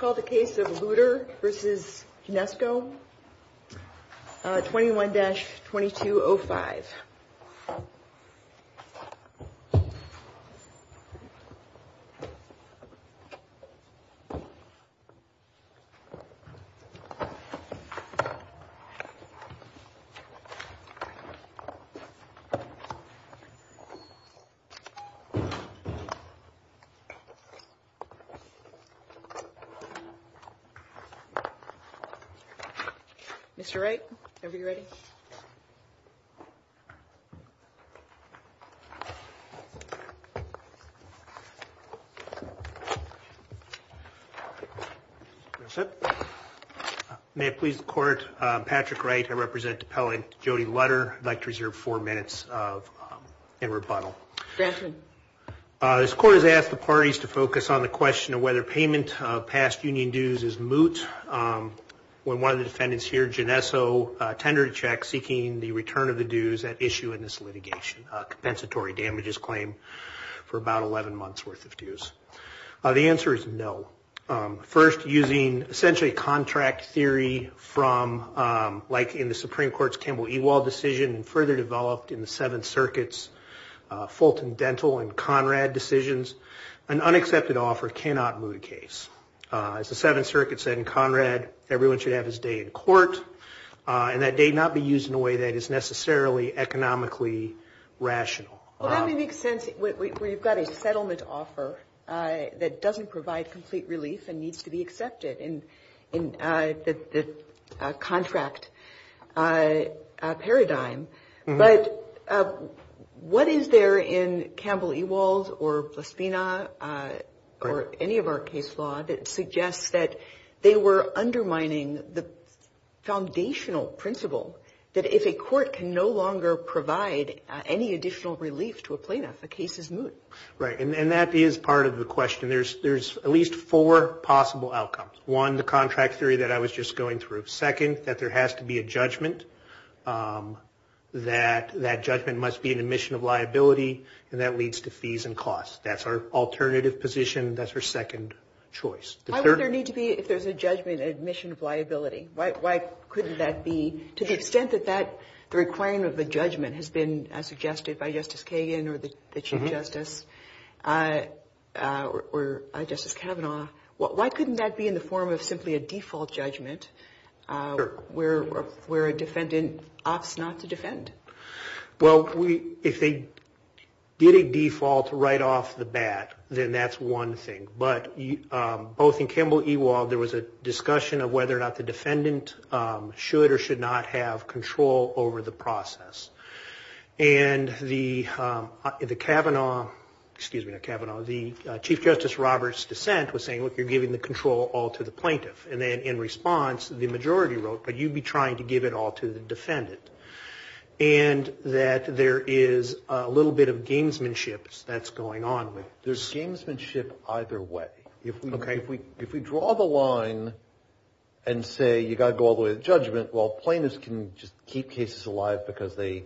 21-2205 Mr. Wright, whenever you're ready. May it please the Court, I'm Patrick Wright. I represent the appellant Jody Lutter. I'd like to reserve four minutes in rebuttal. This Court has asked the parties to focus on the question of whether payment of past union dues is moot. When one of the defendants here, Jneso, tendered a check seeking the return of the dues at issue in this litigation, a compensatory damages claim for about 11 months worth of dues. The answer is no. First, using essentially contract theory from like in the Supreme Court's Kimball-Ewald decision and further developed in the Seventh Circuit's Fulton-Dentel and Conrad decisions, an unaccepted offer cannot moot a case. As the Seventh Circuit said in Conrad, everyone should have his day in court and that day not be used in a way that is necessarily economically rational. Well, that would make sense where you've got a settlement offer that doesn't provide complete relief and needs to be accepted. In the contract paradigm, but what is there in Kimball-Ewald or Blaspina or any of our case law that suggests that they were undermining the foundational principle that if a court can no longer provide any additional relief to a plaintiff, the case is moot. Right. And that is part of the question. There's at least four possible outcomes. One, the contract theory that I was just going through. Second, that there has to be a judgment, that that judgment must be an admission of liability and that leads to fees and costs. That's our alternative position. That's our second choice. Why would there need to be, if there's a judgment, an admission of liability? Why couldn't that be? To the extent that the requirement of the judgment has been suggested by Justice Kagan or the Chief Justice or Justice Kavanaugh, why couldn't that be in the form of simply a default judgment where a defendant opts not to defend? Well, if they did a default right off the bat, then that's one thing. But both in Kimball-Ewald, there was a discussion of whether or not the defendant should or should not be given control over the process. And the Chief Justice Roberts' dissent was saying, look, you're giving the control all to the plaintiff. And then in response, the majority wrote, but you'd be trying to give it all to the defendant. And that there is a little bit of gamesmanship that's going on. There's gamesmanship either way. If we draw the line and say, you've got to go all the way to the judgment, well, plaintiff's got to go all the way to the judgment. And then we can just keep cases alive because they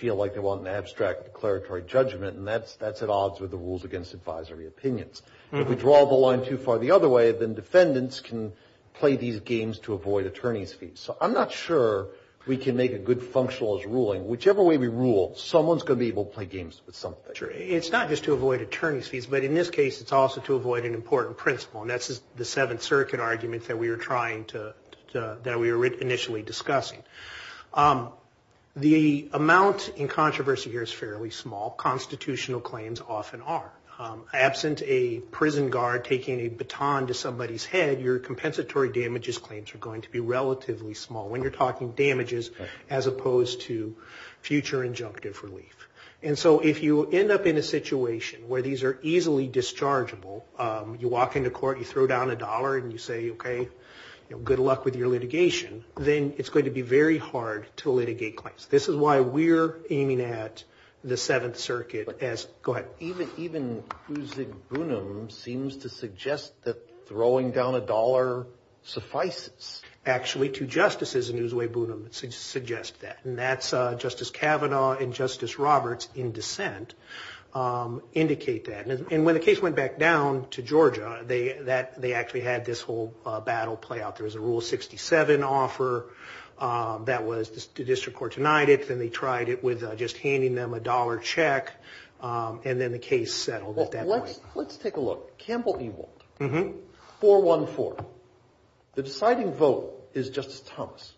feel like they want an abstract declaratory judgment. And that's at odds with the rules against advisory opinions. If we draw the line too far the other way, then defendants can play these games to avoid attorney's fees. So I'm not sure we can make a good functionalist ruling. Whichever way we rule, someone's going to be able to play games with something. Sure. It's not just to avoid attorney's fees. But in this case, it's also to avoid an important principle. And that's the Seventh Circuit argument that we were initially discussing. The amount in controversy here is fairly small. Constitutional claims often are. Absent a prison guard taking a baton to somebody's head, your compensatory damages claims are going to be relatively small. When you're talking damages as opposed to future injunctive relief. And so if you end up in a situation where these are easily dischargeable, you walk into court, you throw down a dollar, and you say, okay, good luck with your litigation, then it's going to be very difficult for you to get out of jail. It's going to be very hard to litigate claims. This is why we're aiming at the Seventh Circuit as, go ahead. Even Uzug Bunum seems to suggest that throwing down a dollar suffices. Actually, two justices in Uzug Bunum suggest that. And that's Justice Kavanaugh and Justice Roberts in dissent indicate that. And when the case went back down to Georgia, they actually had this whole battle play out. There was a Rule 67 offer. That was the district court denied it. Then they tried it with just handing them a dollar check. And then the case settled at that point. Let's take a look. Campbell-Ewald. 414. The deciding vote is Justice Thomas.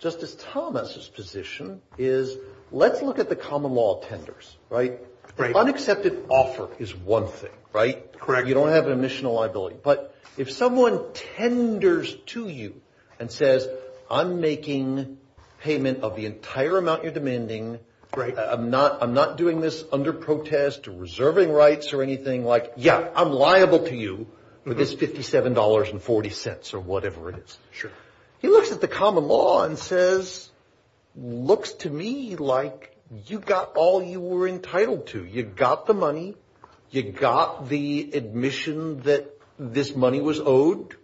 Justice Thomas's position is, let's look at the common law tenders. The unaccepted offer is one. You don't have an admission of liability. But if someone tenders to you and says, I'm making payment of the entire amount you're demanding, I'm not doing this under protest or reserving rights or anything, like, yeah, I'm liable to you with this $57.40 or whatever it is. He looks at the common law and says, looks to me like you got all you were entitled to. You got the money. You got the admission that this money was owed.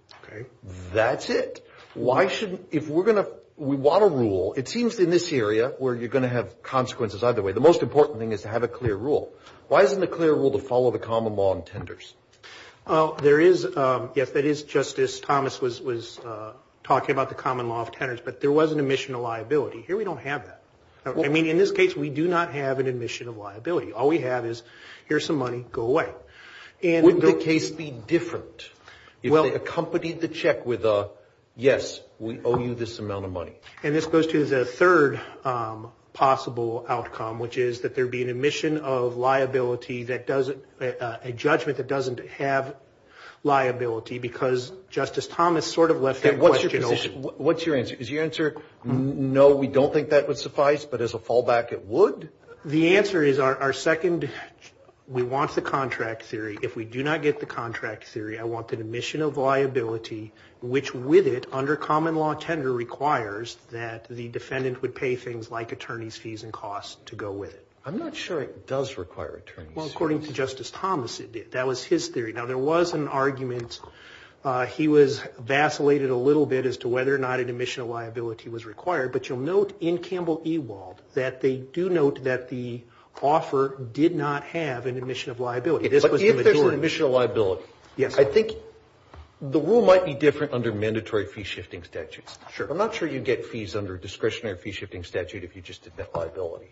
That's it. Why shouldn't, if we're going to, we want a rule, it seems in this area where you're going to have consequences either way, the most important thing is to have a clear rule. Why isn't a clear rule to follow the common law on tenders? There is, yes, that is Justice Thomas was talking about the common law of tenders. But there was an admission of liability. Here we don't have that. I mean, in this case, we do not have an admission of liability. All we have is, here's some money, go away. Wouldn't the case be different if they accompanied the check with a, yes, we owe you this amount of money? And this goes to the third possible outcome, which is that there be an admission of liability that doesn't, a judgment that doesn't have liability, because Justice Thomas sort of left that question open. What's your answer? Is your answer, no, we don't think that would suffice, but as a fallback, it would? The answer is our second, we want the contract theory. If we do not get the contract theory, I want the admission of liability, which with it, under common law tender, requires that the defendant would pay things like attorney's fees and costs to go with it. I'm not sure it does require attorney's fees. Well, according to Justice Thomas, it did. That was his theory. Now, there was an argument. He was vacillated a little bit as to whether or not an admission of liability was required. But you'll note in Campbell-Ewald that they do note that the offer did not have an admission of liability. But if there's an admission of liability, I think the rule might be different under mandatory fee shifting statutes. I'm not sure you get fees under discretionary fee shifting statute if you just admit liability.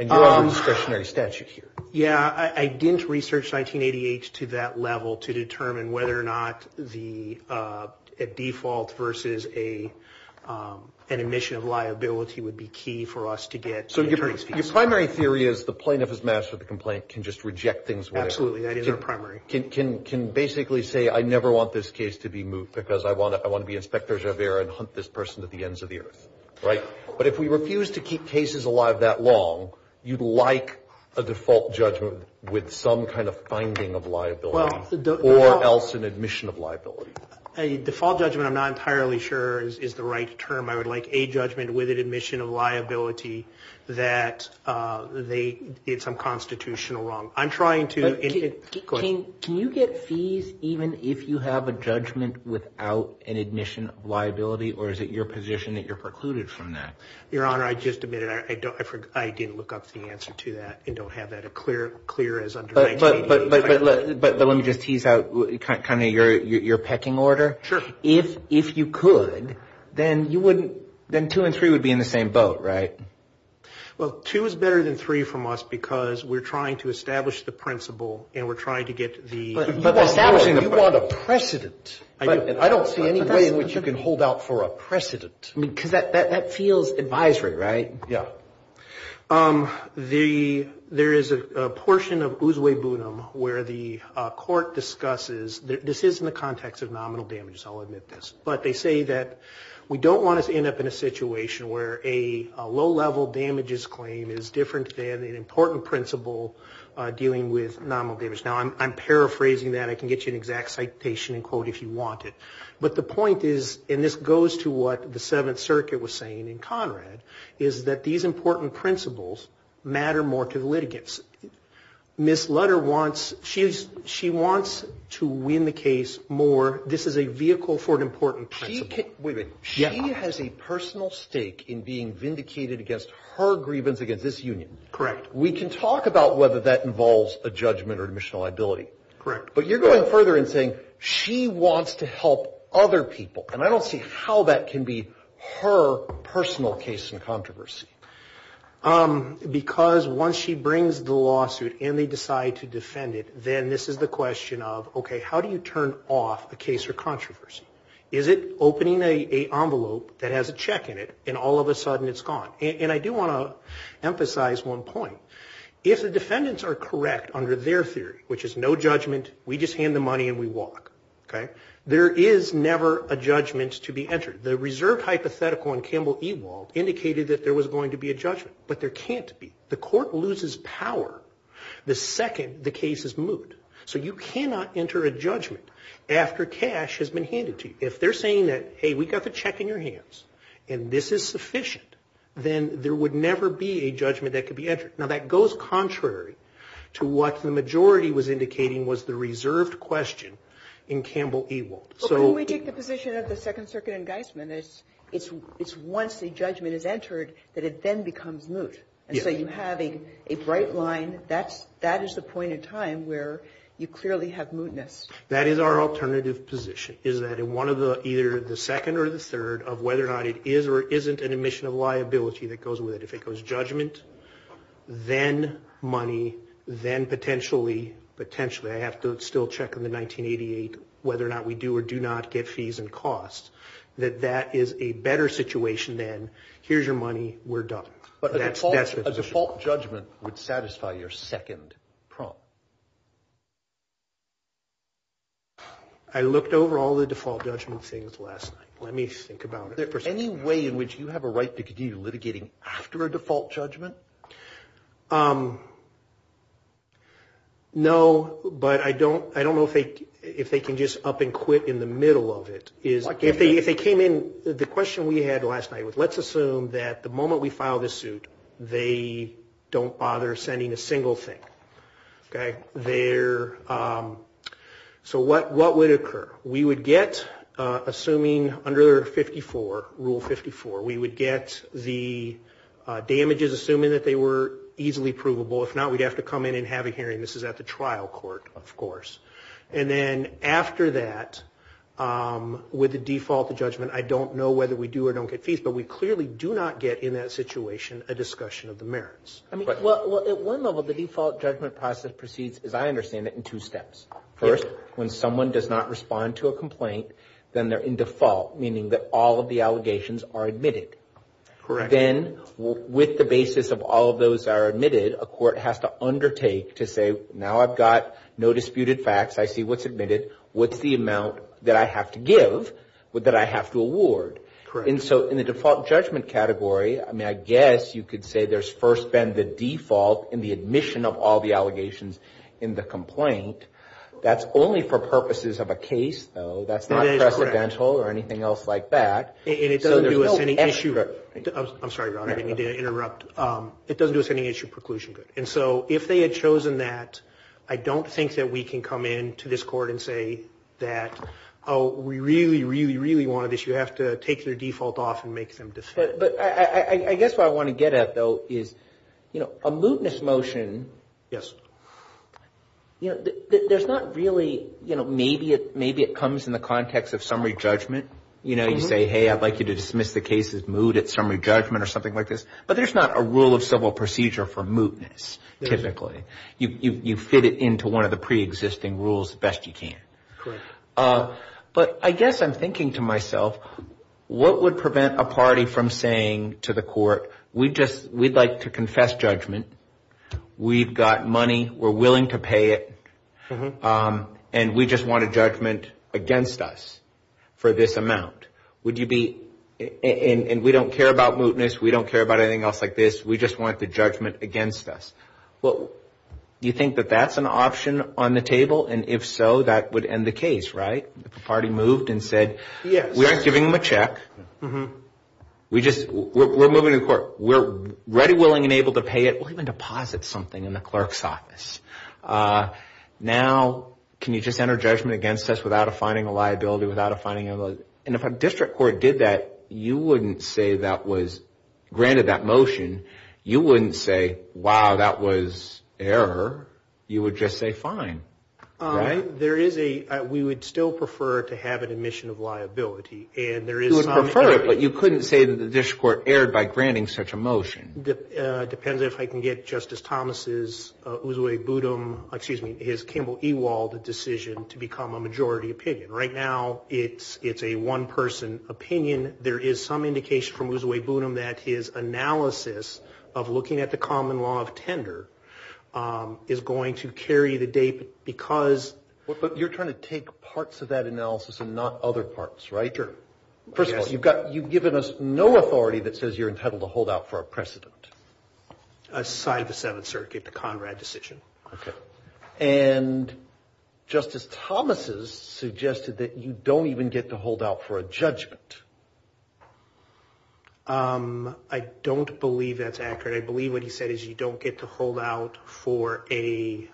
And you're on a discretionary statute here. Yeah, I didn't research 1988 to that level to determine whether or not a default versus an admission of liability would be key for us to get attorney's fees. So your primary theory is the plaintiff has mastered the complaint, can just reject things. Absolutely, that is our primary. Can basically say I never want this case to be moved because I want to be Inspector Gervais and hunt this person to the ends of the earth. But if we refuse to keep cases alive that long, you'd like a default judgment with some kind of finding of liability or else an admission of liability. A default judgment, I'm not entirely sure, is the right term. I would like a judgment with an admission of liability that they did some constitutional wrong. Can you get fees even if you have a judgment without an admission of liability or is it your position that you're precluded from that? Your Honor, I just admitted I didn't look up the answer to that and don't have that clear as under 1988. But let me just tease out kind of your pecking order. I mean, then two and three would be in the same boat, right? Well, two is better than three from us because we're trying to establish the principle and we're trying to get the... You want a precedent. I don't see any way in which you can hold out for a precedent. Because that feels advisory, right? Yeah. There is a portion of Uswe Bunim where the court discusses... This is in the context of nominal damages, I'll admit this. But they say that we don't want to end up in a situation where a low-level damages claim is different than an important principle dealing with nominal damage. Now, I'm paraphrasing that. I can get you an exact citation and quote if you want it. But the point is, and this goes to what the Seventh Circuit was saying in Conrad, is that these important principles matter more to the litigants. Ms. Lutter wants... She wants to win the case more. This is a vehicle for an important principle. Wait a minute. She has a personal stake in being vindicated against her grievance against this union. Correct. We can talk about whether that involves a judgment or admission of liability. Correct. But you're going further and saying she wants to help other people. And I don't see how that can be her personal case in controversy. Because once she brings the lawsuit and they decide to defend it, then this is the question of, okay, how do you turn off a case or controversy? Is it opening an envelope that has a check in it and all of a sudden it's gone? If the defendants are correct under their theory, which is no judgment, we just hand the money and we walk, okay? There is never a judgment to be entered. The court loses power the second the case is moved. So you cannot enter a judgment after cash has been handed to you. If they're saying that, hey, we got the check in your hands and this is sufficient, then there would never be a judgment that could be entered. Now, that goes contrary to what the majority was indicating was the reserved question in Campbell Ewald. But when we take the position of the Second Circuit in Geisman, it's once the judgment is entered that it then becomes moot. And so you have a bright line. That is the point in time where you clearly have mootness. That is our alternative position, is that in one of the either the second or the third of whether or not it is or isn't an admission of liability that goes with it. If it goes judgment, then money, then potentially, I have to still check on the 1988 whether or not we do or do not get fees and costs, that that is a better situation than here's your money, we're done. But a default judgment would satisfy your second prompt. I looked over all the default judgment things last night. Let me think about it. Is there any way in which you have a right to continue litigating after a default judgment? No, but I don't know if they can just up and quit in the middle of it. If they came in, the question we had last night was let's assume that the moment we file this suit, they don't bother sending a single thing. Okay. So what would occur? We would get, assuming under Rule 54, we would get the damages assuming that they were easily provable. If not, we'd have to come in and have a hearing. This is at the trial court, of course. And then after that, with the default judgment, I don't know whether we do or don't get fees, but we clearly do not get in that situation a discussion of the merits. Well, at one level, the default judgment process proceeds, as I understand it, in two steps. First, when someone does not respond to a complaint, then they're in default, meaning that all of the allegations are admitted. Then with the basis of all of those that are admitted, a court has to undertake to say, now I've got no disputed facts. I see what's admitted. What's the amount that I have to give that I have to award? Correct. And so in the default judgment category, I mean, I guess you could say there's first been the default in the admission of all the allegations in the complaint. That's only for purposes of a case, though. That's not precedental or anything else like that. And it doesn't do us any issue. I'm sorry, Your Honor, I didn't mean to interrupt. It doesn't do us any issue preclusion. And so if they had chosen that, I don't think that we can come in to this court and say that, oh, we really, really, really wanted this. You have to take your default off and make some decisions. But I guess what I want to get at, though, is, you know, a mootness motion, you know, there's not really, you know, maybe it comes in the context of summary judgment. You know, you say, hey, I'd like you to dismiss the case as moot at summary judgment or something like this. But there's not a rule of civil procedure for mootness typically. You fit it into one of the preexisting rules the best you can. But I guess I'm thinking to myself, what would prevent a party from saying to the court, we'd like to confess judgment. We've got money. We're willing to pay it. And we just want a judgment against us for this amount. And we don't care about mootness. We don't care about anything else like this. We just want the judgment against us. Well, you think that that's an option on the table? And if so, that would end the case, right? If a party moved and said, we aren't giving them a check. We're moving to the court. We're ready, willing, and able to pay it. We'll even deposit something in the clerk's office. Now, can you just enter judgment against us without a finding of liability, without a finding of liability? And if a district court did that, you wouldn't say that was granted that motion. You wouldn't say, wow, that was error. You would just say fine, right? There is a, we would still prefer to have an admission of liability. You would prefer it, but you couldn't say that the district court erred by granting such a motion. It depends if I can get Justice Thomas's Uzu-Ebunim, excuse me, his Kimball-Ewald decision to become a majority opinion. Right now, it's a one-person opinion. There is some indication from Uzu-Ebunim that his analysis of looking at the common law of tender is going to carry the date because... But you're trying to take parts of that analysis and not other parts, right? Sure. First of all, you've given us no authority that says you're entitled to hold out for a precedent. Aside the Seventh Circuit, the Conrad decision. And Justice Thomas's suggested that you don't even get to hold out for a judgment. I don't believe that's accurate. I believe what he said is you don't get to hold out for a...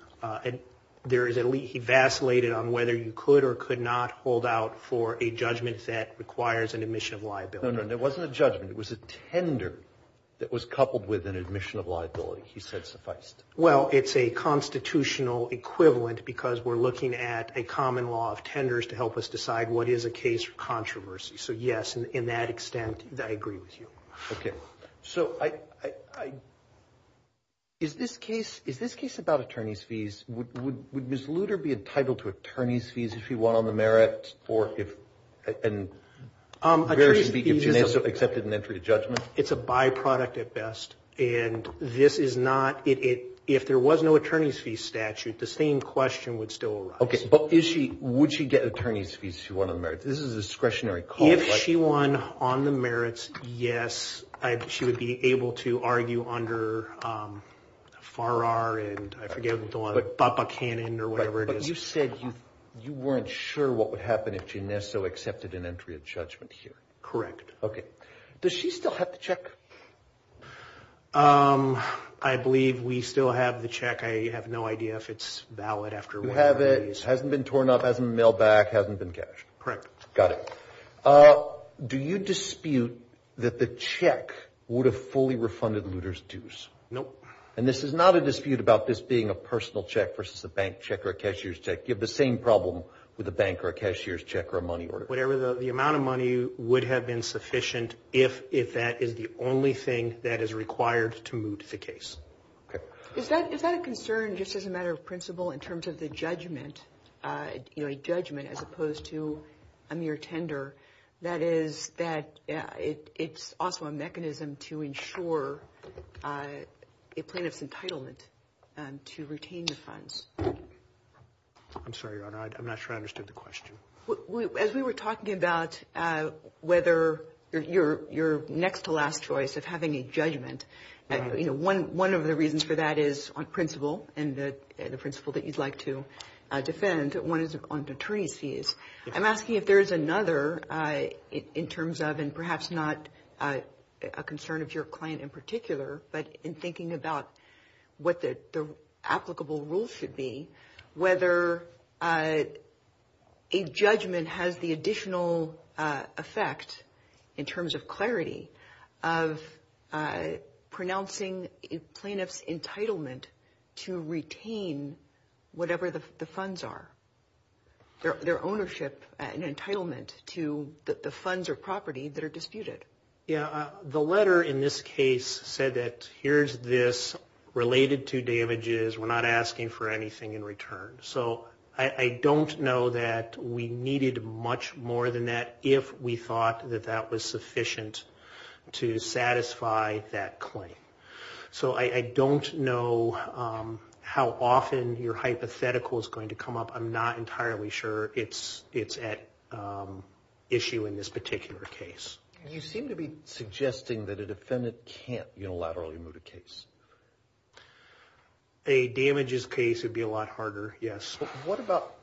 He vacillated on whether you could or could not hold out for a judgment that requires an admission of liability. No, no. It wasn't a judgment. It was a tender that was coupled with an admission of liability. He said sufficed. Well, it's a constitutional equivalent because we're looking at a common law of tenders to help us decide what is a case for controversy. So, yes, in that extent, I agree with you. Okay. So, is this case about attorney's fees? Would Ms. Lutter be entitled to attorney's fees if she won on the merits or if... Attorney's fees is... If she accepted an entry to judgment? It's a byproduct at best. And this is not... If there was no attorney's fees statute, the same question would still arise. Okay. But would she get attorney's fees if she won on the merits? This is a discretionary call, right? If she won on the merits, yes, she would be able to argue under FARR and I forget what the law... BAPA canon or whatever it is. But you said you weren't sure what would happen if she necessarily accepted an entry of judgment here. Correct. Okay. Does she still have the check? I believe we still have the check. I have no idea if it's valid after whatever it is. You have it. It hasn't been torn up, hasn't been mailed back, hasn't been cashed. Correct. Got it. Do you dispute that the check would have fully refunded Lutter's dues? Nope. And this is not a dispute about this being a personal check versus a bank check or a cashier's check. You have the same problem with a bank or a cashier's check or a money order. Whatever the amount of money would have been sufficient if that is the only thing that is required to moot the case. Is that a concern just as a matter of principle in terms of the judgment, you know, a judgment as opposed to a mere tender? That is that it's also a mechanism to ensure a plaintiff's entitlement to retain the funds. I'm sorry, Your Honor. I'm not sure I understood the question. As we were talking about whether you're next to last choice of having a judgment, you know, one of the reasons for that is on principle and the principle that you'd like to defend. One is on the attorney's fees. I'm asking if there is another in terms of and perhaps not a concern of your client in particular, but in thinking about what the applicable rules should be, whether a judgment has the additional effect in terms of clarity of pronouncing a plaintiff's entitlement to retain whatever the funds are, their ownership and entitlement to the funds or property that are disputed. Yeah, the letter in this case said that here's this related to damages. We're not asking for anything in return. So I don't know that we needed much more than that if we thought that that was sufficient to satisfy that claim. So I don't know how often your hypothetical is going to come up. I'm not entirely sure it's at issue in this particular case. You seem to be suggesting that a defendant can't unilaterally move the case. A damages case would be a lot harder. Yes. What about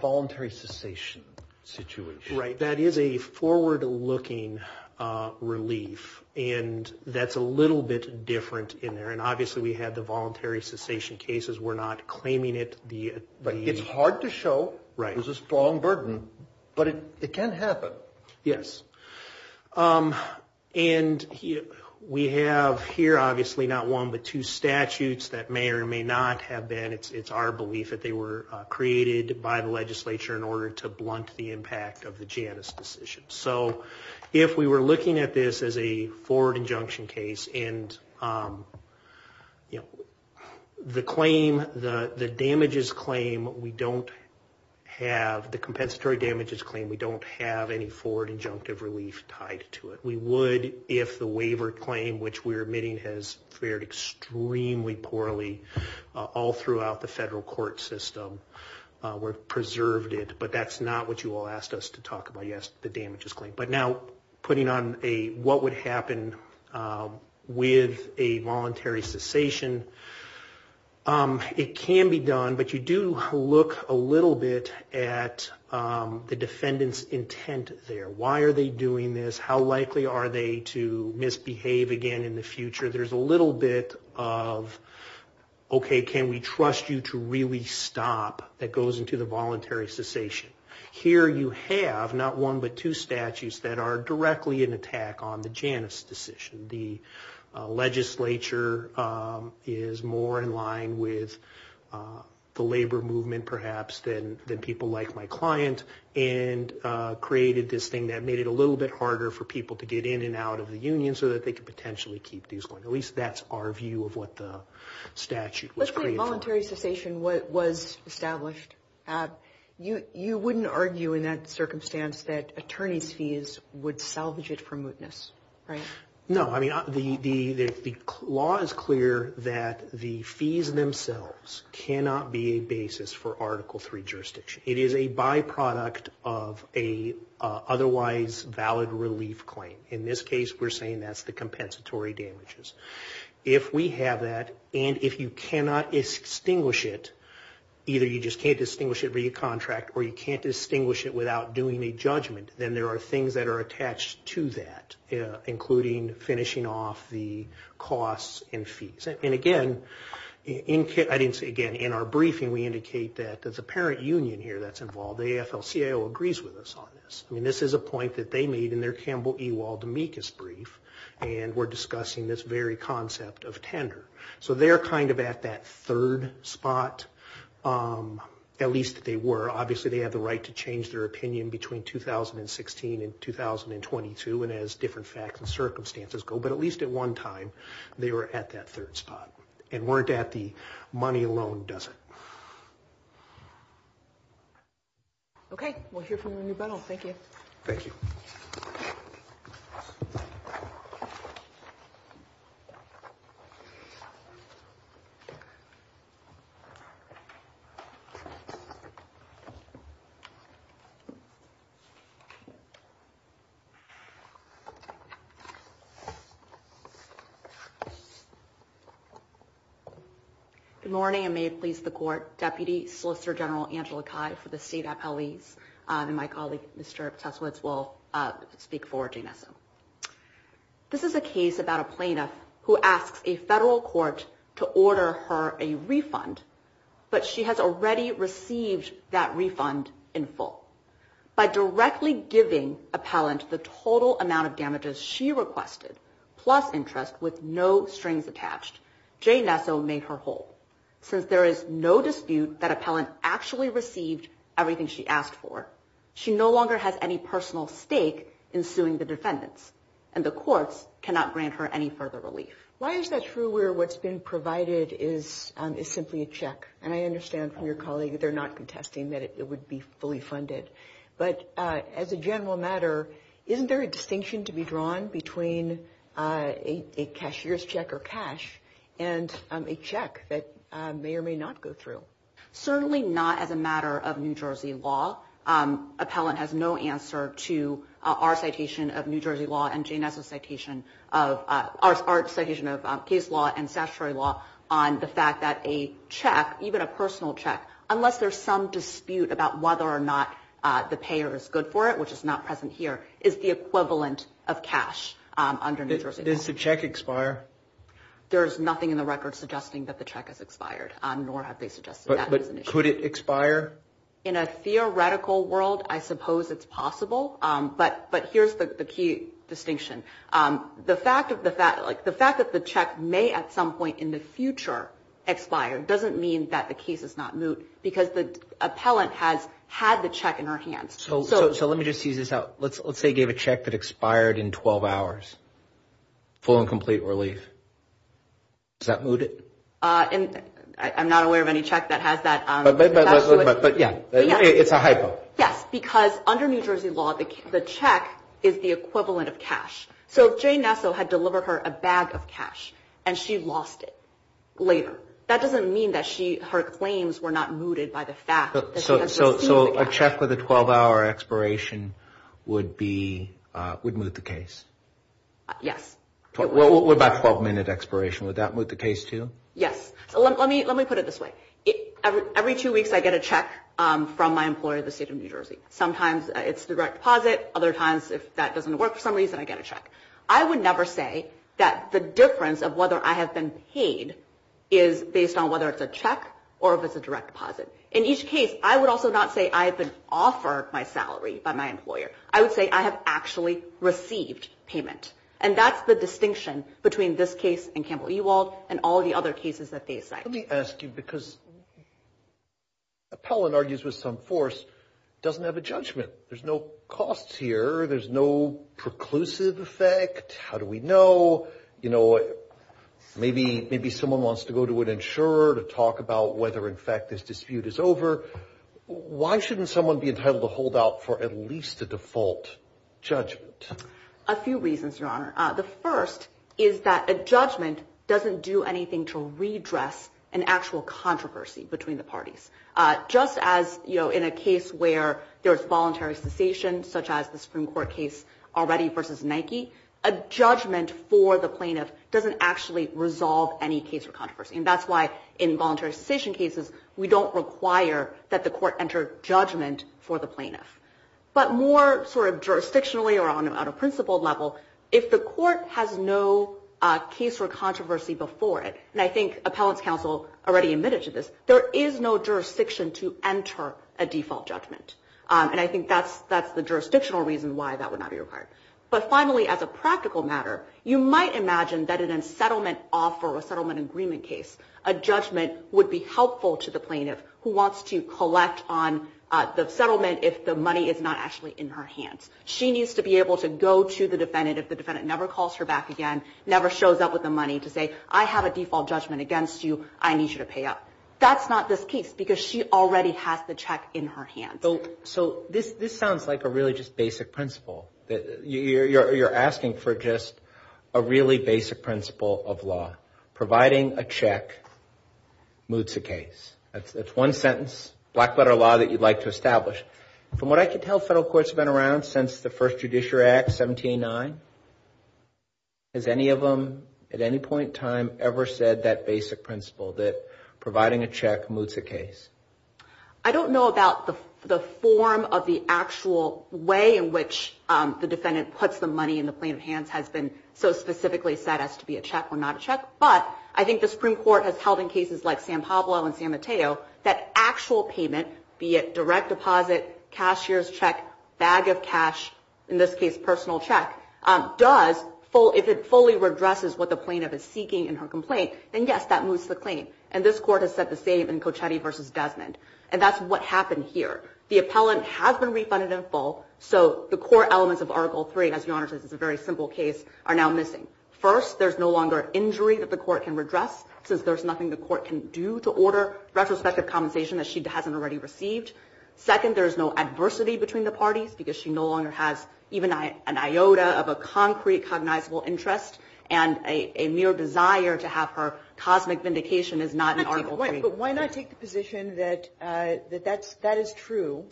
voluntary cessation situation? Right. That is a forward looking relief, and that's a little bit different in there. And obviously we had the voluntary cessation cases. We're not claiming it. It's hard to show. Right. There's a strong burden. But it can happen. Yes. And we have here obviously not one but two statutes that may or may not have been, it's our belief that they were created by the legislature in order to blunt the impact of the Janus decision. So if we were looking at this as a forward injunction case, and the claim, the damages claim, we don't have, the compensatory damages claim, we don't have any forward injunctive relief tied to it. We would if the waiver claim, which we're admitting has fared extremely poorly all throughout the federal court system. We've preserved it. But that's not what you all asked us to talk about. Yes, the damages claim. But now putting on a what would happen with a voluntary cessation. It can be done, but you do look a little bit at the defendant's intent there. Why are they doing this? How likely are they to misbehave again in the future? There's a little bit of, okay, can we trust you to really stop? That goes into the voluntary cessation. Here you have not one but two statutes that are directly in attack on the Janus decision. The legislature is more in line with the labor movement perhaps than people like my client and created this thing that made it a little bit harder for people to get in and out of the union so that they could potentially keep these going. At least that's our view of what the statute was created for. If a voluntary cessation was established, you wouldn't argue in that circumstance that attorney's fees would salvage it from mootness, right? No. The law is clear that the fees themselves cannot be a basis for Article III jurisdiction. It is a byproduct of an otherwise valid relief claim. In this case, we're saying that's the compensatory damages. If we have that and if you cannot distinguish it, either you just can't distinguish it via contract or you can't distinguish it without doing a judgment, then there are things that are attached to that, including finishing off the costs and fees. And again, I didn't say again. In our briefing, we indicate that there's a parent union here that's involved. AFL-CIO agrees with us on this. I mean, this is a point that they made in their Campbell-Ewald-Demekas brief, and we're discussing this very concept of tender. So they're kind of at that third spot, at least they were. Obviously, they have the right to change their opinion between 2016 and 2022 and as different facts and circumstances go. But at least at one time, they were at that third spot. And weren't at the money alone, does it? Okay. We'll hear from you in a minute. Thank you. Thank you. Thank you. Good morning. I may have pleased the court. Deputy Solicitor General Angela Cai for the State Appellees. And my colleague, Mr. Tesowitz, will speak for Jay Nesso. This is a case about a plaintiff who asks a federal court to order her a refund, but she has already received that refund in full. By directly giving appellant the total amount of damages she requested, plus interest with no strings attached, Jay Nesso made her whole. Since there is no dispute that appellant actually received everything she asked for, she no longer has any personal stake in suing the defendants, and the courts cannot grant her any further relief. Why is that true where what's been provided is simply a check? And I understand from your colleague that they're not contesting that it would be fully funded. But as a general matter, isn't there a distinction to be drawn between a cashier's check or cash and a check that may or may not go through? Certainly not as a matter of New Jersey law. Appellant has no answer to our citation of New Jersey law and Jay Nesso's citation of case law and statutory law on the fact that a check, even a personal check, unless there's some dispute about whether or not the payer is good for it, which is not present here, is the equivalent of cash under New Jersey law. Does the check expire? There is nothing in the record suggesting that the check has expired, nor have they suggested that. But could it expire? In a theoretical world, I suppose it's possible. But here's the key distinction. The fact that the check may at some point in the future expire doesn't mean that the case is not moot because the appellant has had the check in her hands. So let me just tease this out. Let's say you gave a check that expired in 12 hours, full and complete relief. Is that mooted? I'm not aware of any check that has that. But, yeah, it's a hypo. Yes, because under New Jersey law, the check is the equivalent of cash. So if Jay Nesso had delivered her a bag of cash and she lost it later, that doesn't mean that her claims were not mooted by the fact that she received the cash. So a check with a 12-hour expiration would be, would moot the case? Yes. What about 12-minute expiration? Would that moot the case, too? Yes. Let me put it this way. Every two weeks I get a check from my employer at the State of New Jersey. Sometimes it's a direct deposit. Other times, if that doesn't work for some reason, I get a check. I would never say that the difference of whether I have been paid is based on whether it's a check or if it's a direct deposit. In each case, I would also not say I have been offered my salary by my employer. I would say I have actually received payment. And that's the distinction between this case and Campbell-Ewald and all the other cases that they cite. Let me ask you, because Appellant argues with some force doesn't have a judgment. There's no costs here. There's no preclusive effect. How do we know? Maybe someone wants to go to an insurer to talk about whether, in fact, this dispute is over. Why shouldn't someone be entitled to hold out for at least a default judgment? A few reasons, Your Honor. The first is that a judgment doesn't do anything to redress an actual controversy between the parties. Just as in a case where there's voluntary cessation, such as the Supreme Court case already versus Nike, a judgment for the plaintiff doesn't actually resolve any case or controversy. And that's why, in voluntary cessation cases, we don't require that the court enter judgment for the plaintiff. But more sort of jurisdictionally or on a principled level, if the court has no case or controversy before it, and I think Appellant's counsel already admitted to this, there is no jurisdiction to enter a default judgment. And I think that's the jurisdictional reason why that would not be required. But finally, as a practical matter, you might imagine that in a settlement offer or a settlement agreement case, a judgment would be helpful to the plaintiff who wants to collect on the settlement if the money is not actually in her hands. She needs to be able to go to the defendant if the defendant never calls her back again, never shows up with the money to say, I have a default judgment against you. I need you to pay up. That's not this case because she already has the check in her hands. So this sounds like a really just basic principle. You're asking for just a really basic principle of law. Providing a check moots a case. That's one sentence, black-letter law, that you'd like to establish. From what I can tell, federal courts have been around since the first Judiciary Act, 1709. Has any of them at any point in time ever said that basic principle, that providing a check moots a case? I don't know about the form of the actual way in which the defendant puts the money in the plaintiff's hands has been so specifically set as to be a check or not a check. But I think the Supreme Court has held in cases like San Pablo and San Mateo, that actual payment, be it direct deposit, cashier's check, bag of cash, in this case personal check, does, if it fully redresses what the plaintiff is seeking in her complaint, then yes, that moots the claim. And this Court has said the same in Cochetti v. Desmond. And that's what happened here. The appellant has been refunded in full, so the core elements of Article III, as Your Honor says it's a very simple case, are now missing. First, there's no longer an injury that the Court can redress, since there's nothing the Court can do to order retrospective compensation that she hasn't already received. Second, there's no adversity between the parties, because she no longer has even an iota of a concrete cognizable interest, and a mere desire to have her cosmic vindication is not in Article III. But why not take the position that that is true,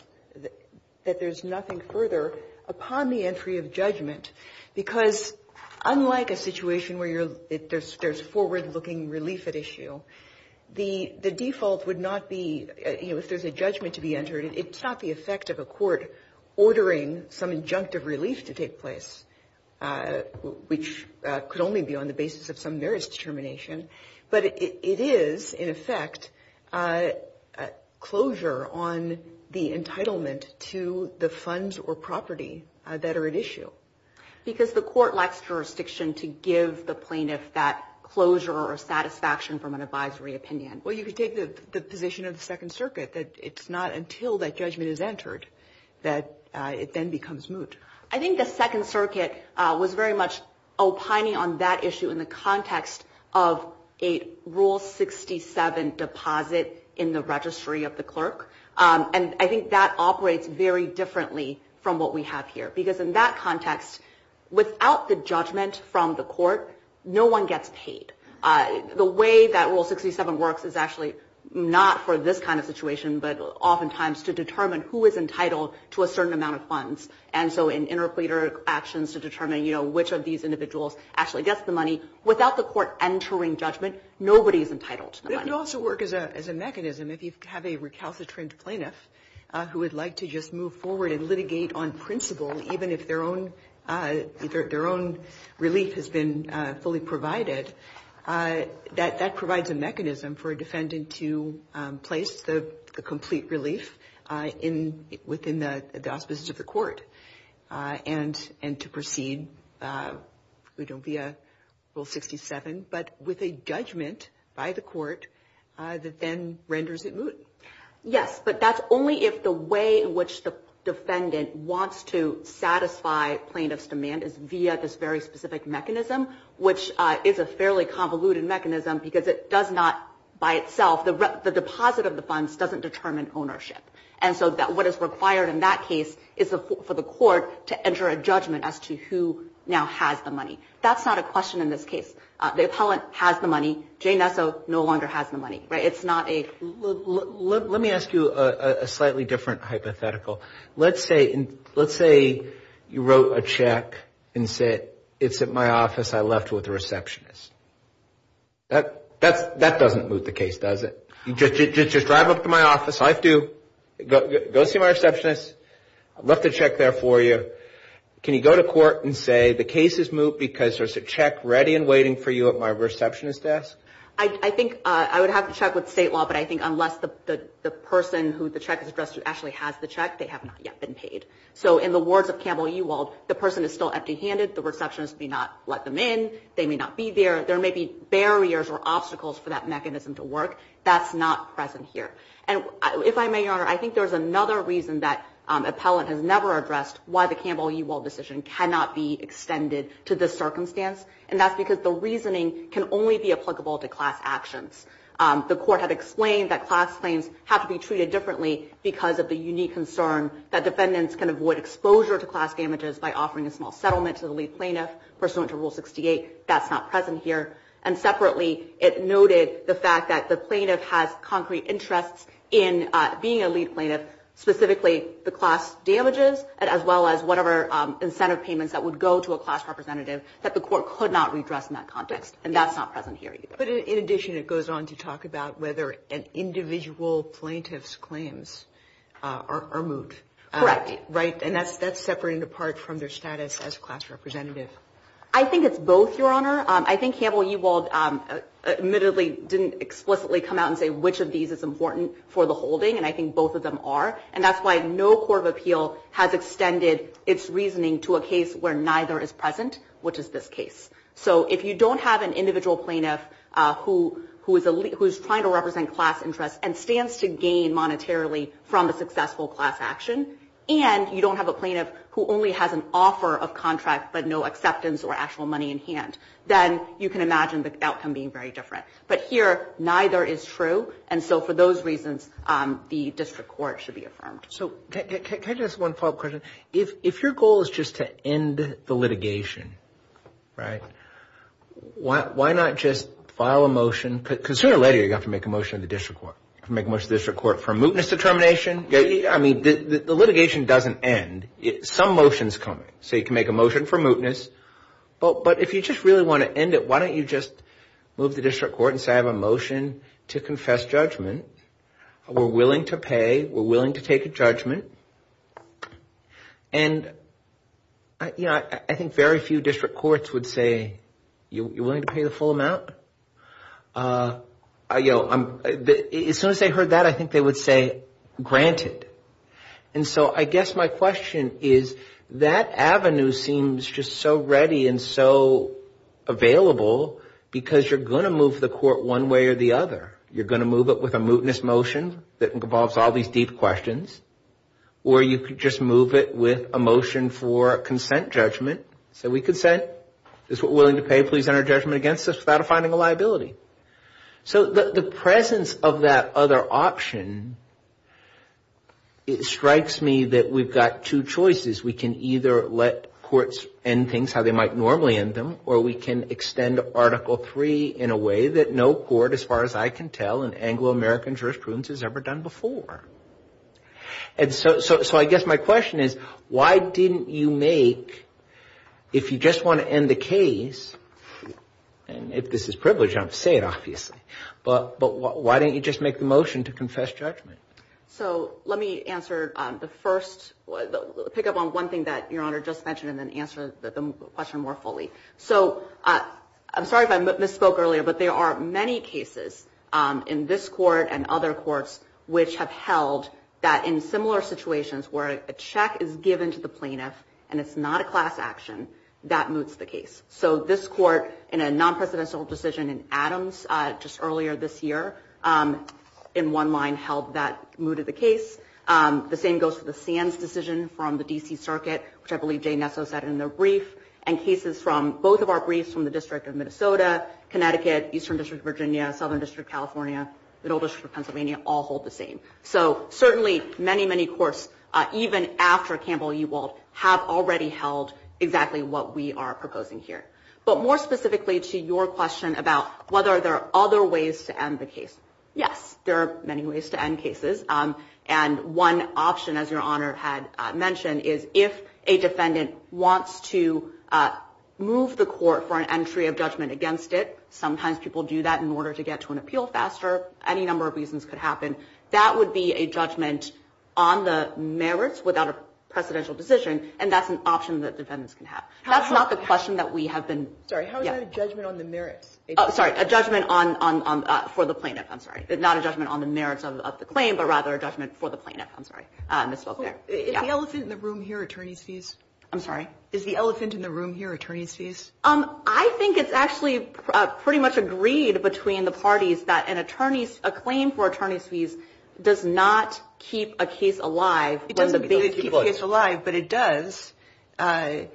that there's nothing further upon the entry of judgment? Because unlike a situation where there's forward-looking relief at issue, the default would not be, you know, if there's a judgment to be entered, it's not the effect of a court ordering some injunctive relief to take place, which could only be on the basis of some various determination, but it is, in effect, closure on the entitlement to the funds or property that are at issue. Because the Court lacks jurisdiction to give the plaintiff that closure or satisfaction from an advisory opinion. Well, you could take the position of the Second Circuit that it's not until that judgment is entered that it then becomes moot. I think the Second Circuit was very much opining on that issue in the context of a Rule 67 deposit in the registry of the clerk. And I think that operates very differently from what we have here, because in that context, without the judgment from the court, no one gets paid. The way that Rule 67 works is actually not for this kind of situation, but oftentimes to determine who is entitled to a certain amount of funds. And so in interpleader actions to determine, you know, which of these individuals actually gets the money, without the court entering judgment, nobody is entitled to the money. But it could also work as a mechanism. If you have a recalcitrant plaintiff who would like to just move forward and litigate on principle, even if their own relief has been fully provided, that provides a mechanism for a defendant to place the complete relief within the auspices of the court and to proceed, you know, via Rule 67, but with a judgment by the court that then renders it moot. Yes, but that's only if the way in which the defendant wants to satisfy plaintiff's demand is via this very specific mechanism, which is a fairly convoluted mechanism because it does not by itself, the deposit of the funds doesn't determine ownership. And so what is required in that case is for the court to enter a judgment as to who now has the money. That's not a question in this case. The appellant has the money. Jay Nesso no longer has the money. It's not a – Let me ask you a slightly different hypothetical. Let's say you wrote a check and said, it's at my office. I left it with the receptionist. That doesn't moot the case, does it? Just drive up to my office. I have to go see my receptionist. I left the check there for you. Can you go to court and say the case is moot because there's a check ready and waiting for you at my receptionist's desk? I think I would have to check with state law, but I think unless the person who the check is addressed to actually has the check, they have not yet been paid. So in the words of Campbell Ewald, the person is still empty-handed. The receptionist may not let them in. They may not be there. There may be barriers or obstacles for that mechanism to work. That's not present here. And if I may, Your Honor, I think there's another reason that appellant has never addressed why the Campbell Ewald decision cannot be extended to this circumstance, and that's because the reasoning can only be applicable to class actions. The court had explained that class claims have to be treated differently because of the unique concern that defendants can avoid exposure to class damages by offering a small settlement to the lead plaintiff pursuant to Rule 68. That's not present here. And separately, it noted the fact that the plaintiff has concrete interests in being a lead plaintiff, specifically the class damages as well as whatever incentive payments that would go to a class representative that the court could not redress in that context, and that's not present here either. But in addition, it goes on to talk about whether an individual plaintiff's claims are moved. Correct. Right, and that's separate and apart from their status as a class representative. I think it's both, Your Honor. I think Campbell Ewald admittedly didn't explicitly come out and say which of these is important for the holding, and I think both of them are, and that's why no court of appeal has extended its reasoning to a case where neither is present, which is this case. So if you don't have an individual plaintiff who is trying to represent class interests and stands to gain monetarily from a successful class action, and you don't have a plaintiff who only has an offer of contract but no acceptance or actual money in hand, then you can imagine the outcome being very different. But here, neither is true, and so for those reasons, the district court should be affirmed. So can I just ask one follow-up question? If your goal is just to end the litigation, right, why not just file a motion? Because sooner or later, you have to make a motion to the district court. You have to make a motion to the district court for a mootness determination. I mean, the litigation doesn't end. Some motion is coming. So you can make a motion for mootness, but if you just really want to end it, why don't you just move to the district court and say I have a motion to confess judgment. We're willing to pay. We're willing to take a judgment. And, you know, I think very few district courts would say you're willing to pay the full amount. As soon as they heard that, I think they would say granted. And so I guess my question is that avenue seems just so ready and so available because you're going to move the court one way or the other. You're going to move it with a mootness motion that involves all these deep questions, or you could just move it with a motion for consent judgment. So we consent. This is what we're willing to pay. Please enter a judgment against us without finding a liability. So the presence of that other option, it strikes me that we've got two choices. We can either let courts end things how they might normally end them, or we can extend Article III in a way that no court, as far as I can tell, in Anglo-American jurisprudence has ever done before. And so I guess my question is why didn't you make, if you just want to end the case, and if this is privilege, I'm going to say it obviously, but why didn't you just make the motion to confess judgment? So let me answer the first, pick up on one thing that Your Honor just mentioned and then answer the question more fully. So I'm sorry if I misspoke earlier, but there are many cases in this court and other courts which have held that in similar situations where a check is given to the plaintiff and it's not a class action, that moots the case. So this court, in a non-presidential decision in Adams just earlier this year, in one line held that mooted the case. The same goes for the Sands decision from the D.C. Circuit, which I believe Jay Nesso said in the brief, and cases from both of our briefs from the District of Minnesota, Connecticut, Eastern District of Virginia, Southern District of California, Middle District of Pennsylvania, all hold the same. So certainly many, many courts, even after Campbell-Ewald, have already held exactly what we are proposing here. But more specifically to your question about whether there are other ways to end the case, yes, there are many ways to end cases. And one option, as Your Honor had mentioned, is if a defendant wants to move the court for an entry of judgment against it, sometimes people do that in order to get to an appeal faster, any number of reasons could happen, that would be a judgment on the merits without a presidential decision, and that's an option that defendants can have. That's not the question that we have been – Sorry, how is that a judgment on the merits? Oh, sorry, a judgment for the plaintiff, I'm sorry. Not a judgment on the merits of the claim, but rather a judgment for the plaintiff. I'm sorry, I misspoke there. Is the elephant in the room here attorneys' fees? I'm sorry? Is the elephant in the room here attorneys' fees? I think it's actually pretty much agreed between the parties that a claim for attorneys' fees does not keep a case alive. It doesn't keep a case alive, but it does under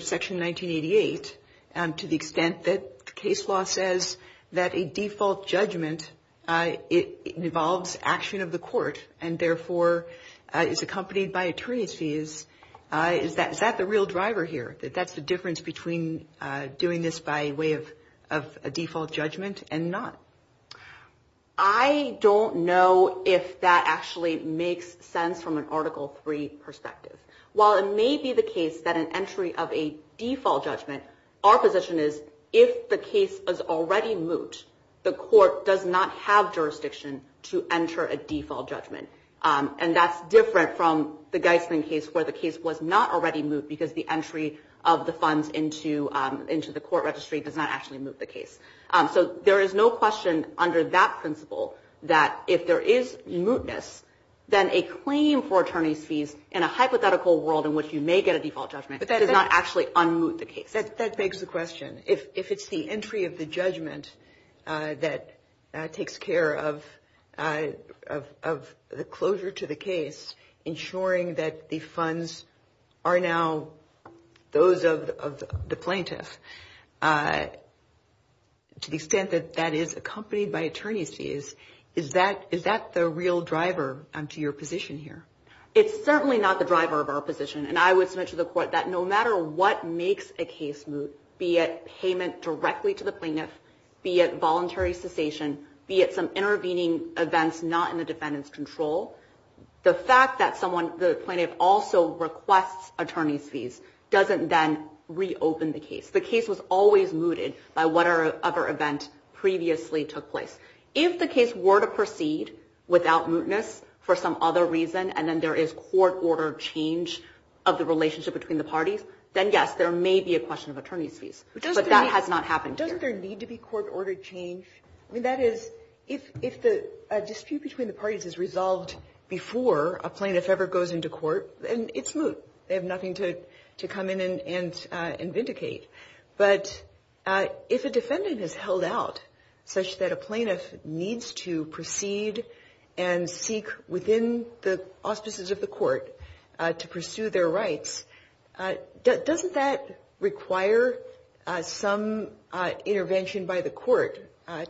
Section 1988 to the extent that the case law says that a default judgment involves action of the court and therefore is accompanied by attorneys' fees. Is that the real driver here, that that's the difference between doing this by way of a default judgment and not? I don't know if that actually makes sense from an Article III perspective. While it may be the case that an entry of a default judgment, our position is if the case is already moot, the court does not have jurisdiction to enter a default judgment. And that's different from the Geisman case where the case was not already moot because the entry of the funds into the court registry does not actually moot the case. So there is no question under that principle that if there is mootness, then a claim for attorneys' fees in a hypothetical world in which you may get a default judgment does not actually unmoot the case. That begs the question. If it's the entry of the judgment that takes care of the closure to the case, ensuring that the funds are now those of the plaintiff, is that the real driver to your position here? It's certainly not the driver of our position. And I would submit to the court that no matter what makes a case moot, be it payment directly to the plaintiff, be it voluntary cessation, be it some intervening events not in the defendant's control, the fact that the plaintiff also requests attorneys' fees doesn't then reopen the case. The case was always mooted by whatever other event previously took place. If the case were to proceed without mootness for some other reason and then there is court-ordered change of the relationship between the parties, then, yes, there may be a question of attorneys' fees. But that has not happened here. Doesn't there need to be court-ordered change? I mean, that is, if a dispute between the parties is resolved before a plaintiff ever goes into court, then it's moot. They have nothing to come in and vindicate. But if a defendant is held out such that a plaintiff needs to proceed and seek within the auspices of the court to pursue their rights, doesn't that require some intervention by the court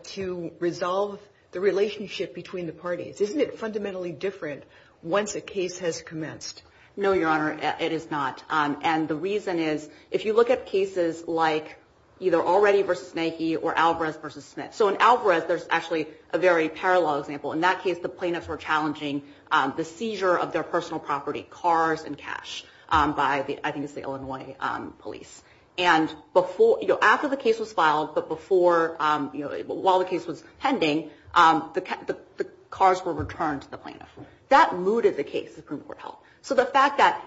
to resolve the relationship between the parties? Isn't it fundamentally different once a case has commenced? No, Your Honor, it is not. And the reason is, if you look at cases like either Already v. Snaky or Alvarez v. Smith, so in Alvarez, there's actually a very parallel example. In that case, the plaintiffs were challenging the seizure of their personal property, cars and cash, by I think it's the Illinois police. And after the case was filed, but while the case was pending, the cars were returned to the plaintiff. That mooted the case, the Supreme Court held. So the fact that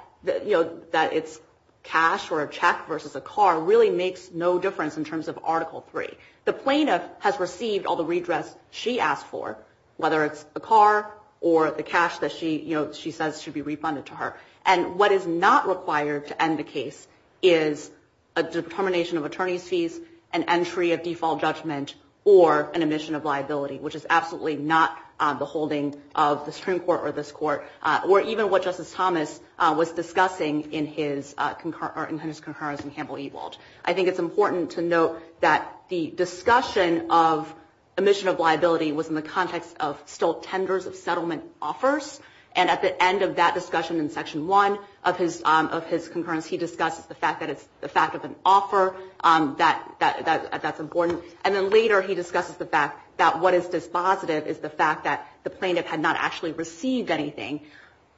it's cash or a check versus a car really makes no difference in terms of Article III. The plaintiff has received all the redress she asked for, whether it's a car or the cash that she says should be refunded to her. And what is not required to end the case is a determination of attorney's fees, an entry of default judgment, or an admission of liability, which is absolutely not the holding of the Supreme Court or this court, or even what Justice Thomas was discussing in his concurrence in Campbell-Ewald. I think it's important to note that the discussion of admission of liability was in the context of stilt tenders of settlement offers. And at the end of that discussion in Section 1 of his concurrence, he discusses the fact that it's the fact of an offer that's important. And then later he discusses the fact that what is dispositive is the fact that the plaintiff had not actually received anything.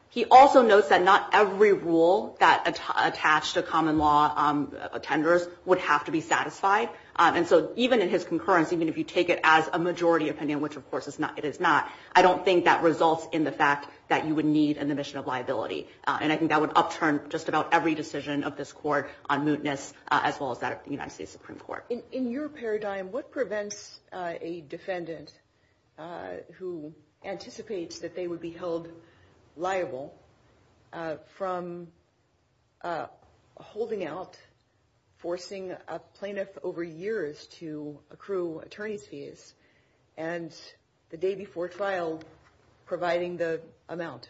He also notes that not every rule that attached to common law tenders would have to be satisfied. And so even in his concurrence, even if you take it as a majority opinion, which of course it is not, I don't think that results in the fact that you would need an admission of liability. And I think that would upturn just about every decision of this court on mootness, as well as that of the United States Supreme Court. In your paradigm, what prevents a defendant who anticipates that they would be held liable from holding out, forcing a plaintiff over years to accrue attorney's fees, and the day before trial providing the amount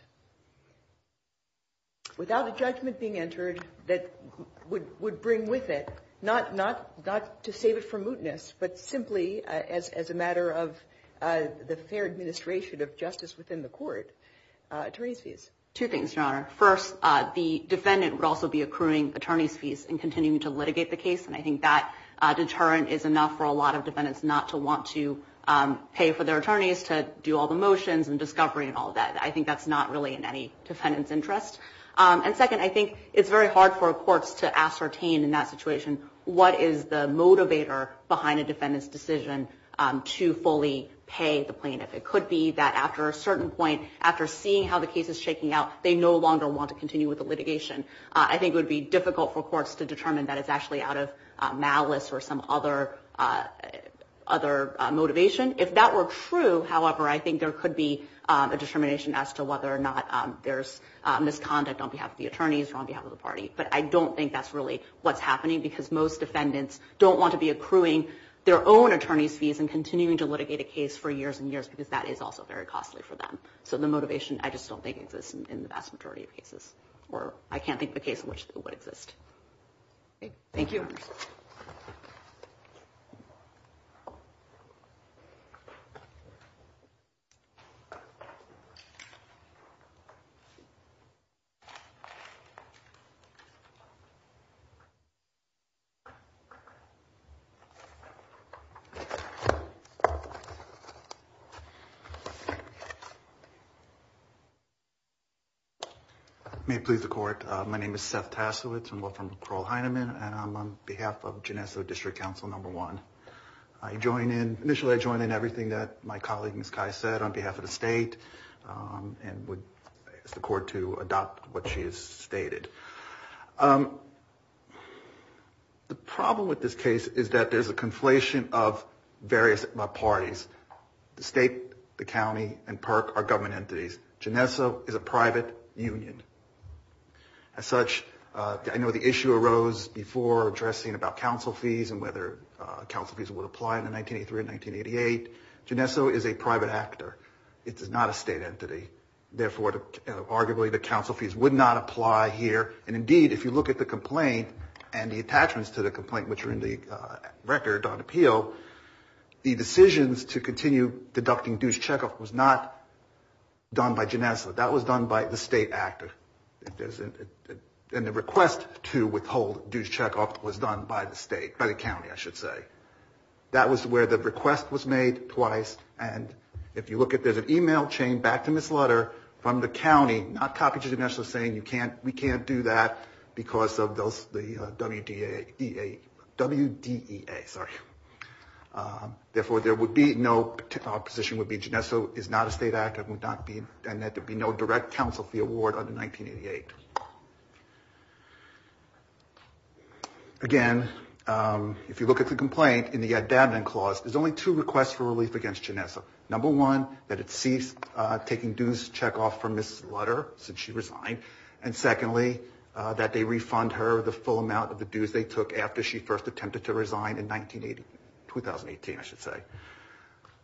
without a judgment being entered that would bring with it, not to save it from mootness, but simply as a matter of the fair administration of justice within the court, attorney's fees? Two things, Your Honor. First, the defendant would also be accruing attorney's fees and continuing to litigate the case. And I think that deterrent is enough for a lot of defendants not to want to pay for their attorneys to do all the motions and discovery and all that. I think that's not really in any defendant's interest. And second, I think it's very hard for courts to ascertain in that situation what is the motivator behind a defendant's decision to fully pay the plaintiff. It could be that after a certain point, after seeing how the case is shaking out, they no longer want to continue with the litigation. I think it would be difficult for courts to determine that it's actually out of malice or some other motivation. If that were true, however, I think there could be a determination as to whether or not there's misconduct on behalf of the attorneys or on behalf of the party. But I don't think that's really what's happening because most defendants don't want to be accruing their own attorney's fees and continuing to litigate a case for years and years because that is also very costly for them. So the motivation I just don't think exists in the vast majority of cases, or I can't think of a case in which it would exist. Thank you. Thank you. May it please the Court. My name is Seth Tasowitz. I'm with McCraw-Hyneman, and I'm on behalf of Genesso District Council No. 1. Initially, I join in everything that my colleague, Ms. Kei, said on behalf of the state and would ask the Court to adopt what she has stated. The problem with this case is that there's a conflation of various parties. The state, the county, and PERC are government entities. Genesso is a private union. As such, I know the issue arose before addressing about council fees and whether council fees would apply in 1983 and 1988. Genesso is a private actor. It is not a state entity. Therefore, arguably, the council fees would not apply here. And indeed, if you look at the complaint and the attachments to the complaint, which are in the record on appeal, the decisions to continue deducting dues checkoff was not done by Genesso. That was done by the state actor. And the request to withhold dues checkoff was done by the state, by the county, I should say. That was where the request was made twice. And if you look at it, there's an email chain back to Ms. Lutter from the county, not copy to Genesso, saying we can't do that because of the WDEA. Therefore, there would be no opposition. The opposition would be Genesso is not a state actor and that there would be no direct council fee award under 1988. Again, if you look at the complaint, in the addamant clause, there's only two requests for relief against Genesso. Number one, that it cease taking dues checkoff from Ms. Lutter since she resigned. And secondly, that they refund her the full amount of the dues they took after she first attempted to resign in 2018, I should say.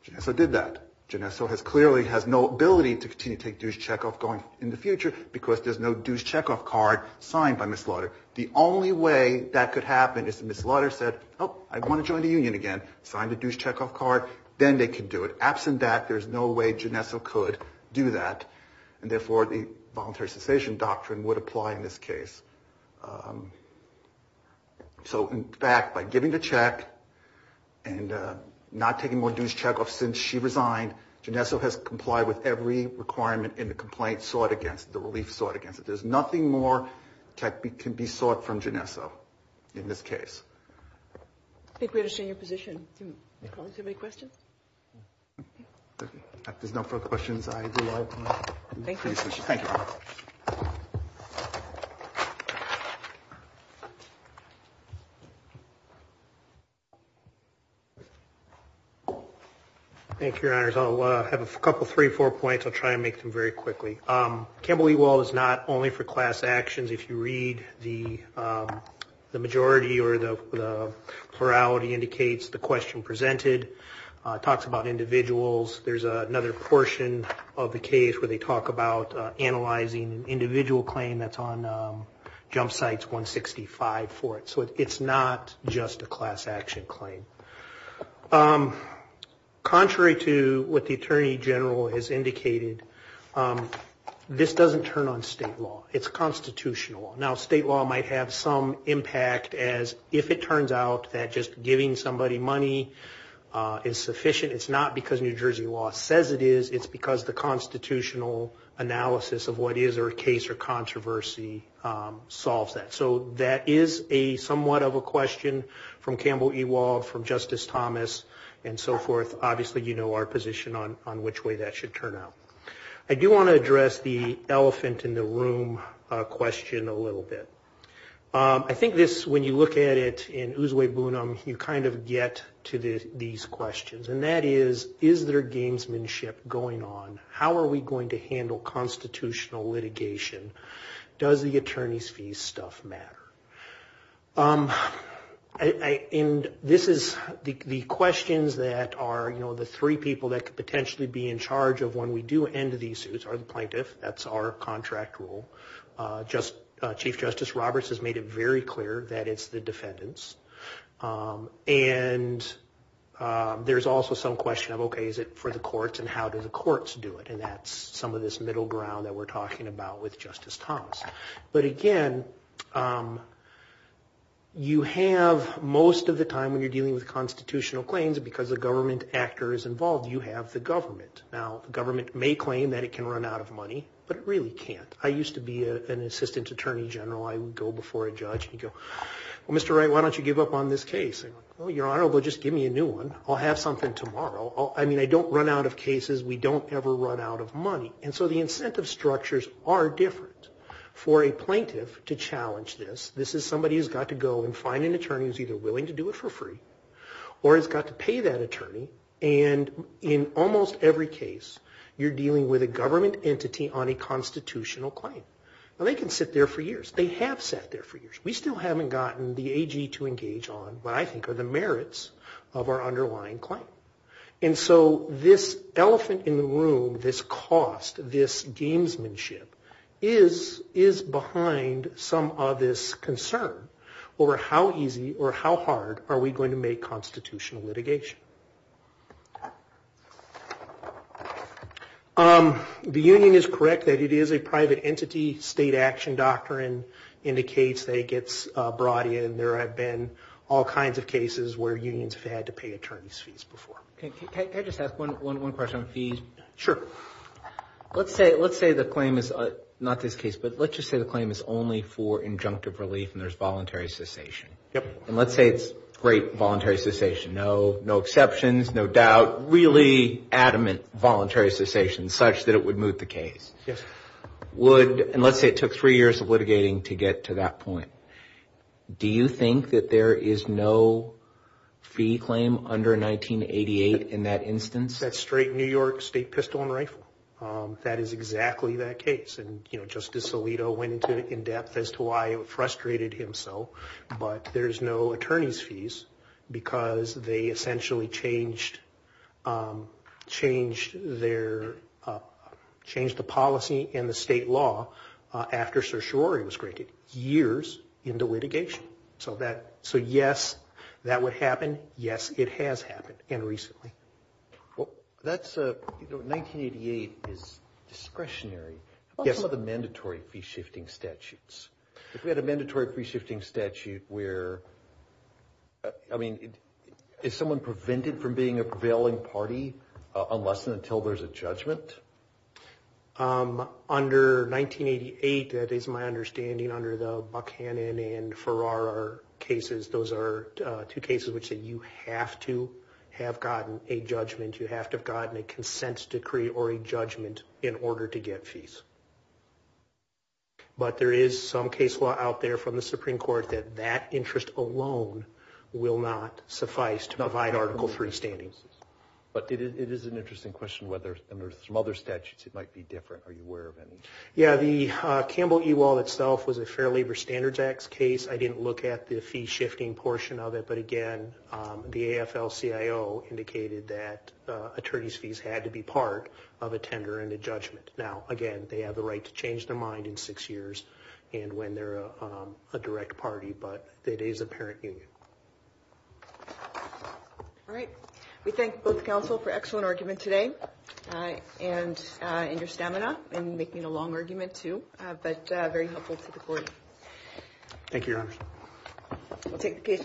Genesso did that. Genesso clearly has no ability to continue to take dues checkoff in the future because there's no dues checkoff card signed by Ms. Lutter. The only way that could happen is if Ms. Lutter said, oh, I want to join the union again, sign the dues checkoff card, then they could do it. Absent that, there's no way Genesso could do that. And therefore, the voluntary cessation doctrine would apply in this case. So, in fact, by giving the check and not taking more dues checkoff since she resigned, Genesso has complied with every requirement in the complaint sought against, the relief sought against. There's nothing more that can be sought from Genesso in this case. I think we understand your position. Do the colleagues have any questions? If there's no further questions, I do. Thank you. Thank you. Thank you. Thank you, Your Honors. I'll have a couple, three or four points. I'll try and make them very quickly. Campbell eWall is not only for class actions. If you read the majority or the plurality indicates the question presented, talks about individuals. There's another portion of the case where they talk about analyzing an individual claim that's on Jump Sites 165 for it. So it's not just a class action claim. Contrary to what the Attorney General has indicated, this doesn't turn on state law. It's constitutional. Now, state law might have some impact as if it turns out that just giving somebody money is sufficient. It's not because New Jersey law says it is. It's because the constitutional analysis of what is a case or controversy solves that. So that is somewhat of a question from Campbell eWall, from Justice Thomas, and so forth. Obviously, you know our position on which way that should turn out. I do want to address the elephant in the room question a little bit. I think this, when you look at it in Uswe Bunim, you kind of get to these questions. And that is, is there gamesmanship going on? How are we going to handle constitutional litigation? Does the attorney's fees stuff matter? And this is the questions that are the three people that could potentially be in charge of when we do end these suits are the plaintiff. That's our contract rule. Chief Justice Roberts has made it very clear that it's the defendants. And there's also some question of, okay, is it for the courts and how do the courts do it? And that's some of this middle ground that we're talking about with Justice Thomas. But again, you have most of the time when you're dealing with constitutional claims, because the government actor is involved, you have the government. Now, the government may claim that it can run out of money, but it really can't. I used to be an assistant attorney general. I would go before a judge and he'd go, well, Mr. Wright, why don't you give up on this case? I'd go, well, Your Honor, well, just give me a new one. I'll have something tomorrow. I mean, I don't run out of cases. We don't ever run out of money. And so the incentive structures are different for a plaintiff to challenge this. This is somebody who's got to go and find an attorney who's either willing to do it for free or has got to pay that attorney. And in almost every case, you're dealing with a government entity on a constitutional claim. Now, they can sit there for years. They have sat there for years. We still haven't gotten the AG to engage on what I think are the merits of our underlying claim. And so this elephant in the room, this cost, this gamesmanship, is behind some of this concern over how easy or how hard are we going to make constitutional litigation. The union is correct that it is a private entity. State action doctrine indicates that it gets brought in. There have been all kinds of cases where unions have had to pay attorney's fees before. Can I just ask one question on fees? Sure. Let's say the claim is not this case, but let's just say the claim is only for injunctive relief and there's voluntary cessation. And let's say it's great voluntary cessation. No exceptions, no doubt, really adamant voluntary cessation such that it would move the case. Yes. And let's say it took three years of litigating to get to that point. Do you think that there is no fee claim under 1988 in that instance? That's straight New York state pistol and rifle. That is exactly that case. And Justice Alito went into it in depth as to why it frustrated him so. But there's no attorney's fees because they essentially changed the policy in the state law after certiorari was granted years into litigation. So yes, that would happen. Yes, it has happened, and recently. 1988 is discretionary. How about some of the mandatory fee-shifting statutes? We had a mandatory fee-shifting statute where, I mean, is someone prevented from being a prevailing party unless and until there's a judgment? Under 1988, that is my understanding, under the Buchanan and Farrar cases, those are two cases which you have to have gotten a judgment. You have to have gotten a consent decree or a judgment in order to get fees. But there is some case law out there from the Supreme Court that that interest alone will not suffice to provide Article III standing. But it is an interesting question whether under some other statutes it might be different. Are you aware of any? Yes, the Campbell eWallet itself was a Fair Labor Standards Act case. I didn't look at the fee-shifting portion of it, but, again, the AFL-CIO indicated that attorney's fees had to be part of a tender and a judgment. Now, again, they have the right to change their mind in six years and when they're a direct party, but it is a parent union. All right. We thank both counsel for excellent argument today and your stamina in making a long argument too, but very helpful to the court. Thank you, Your Honor. We'll take the case now.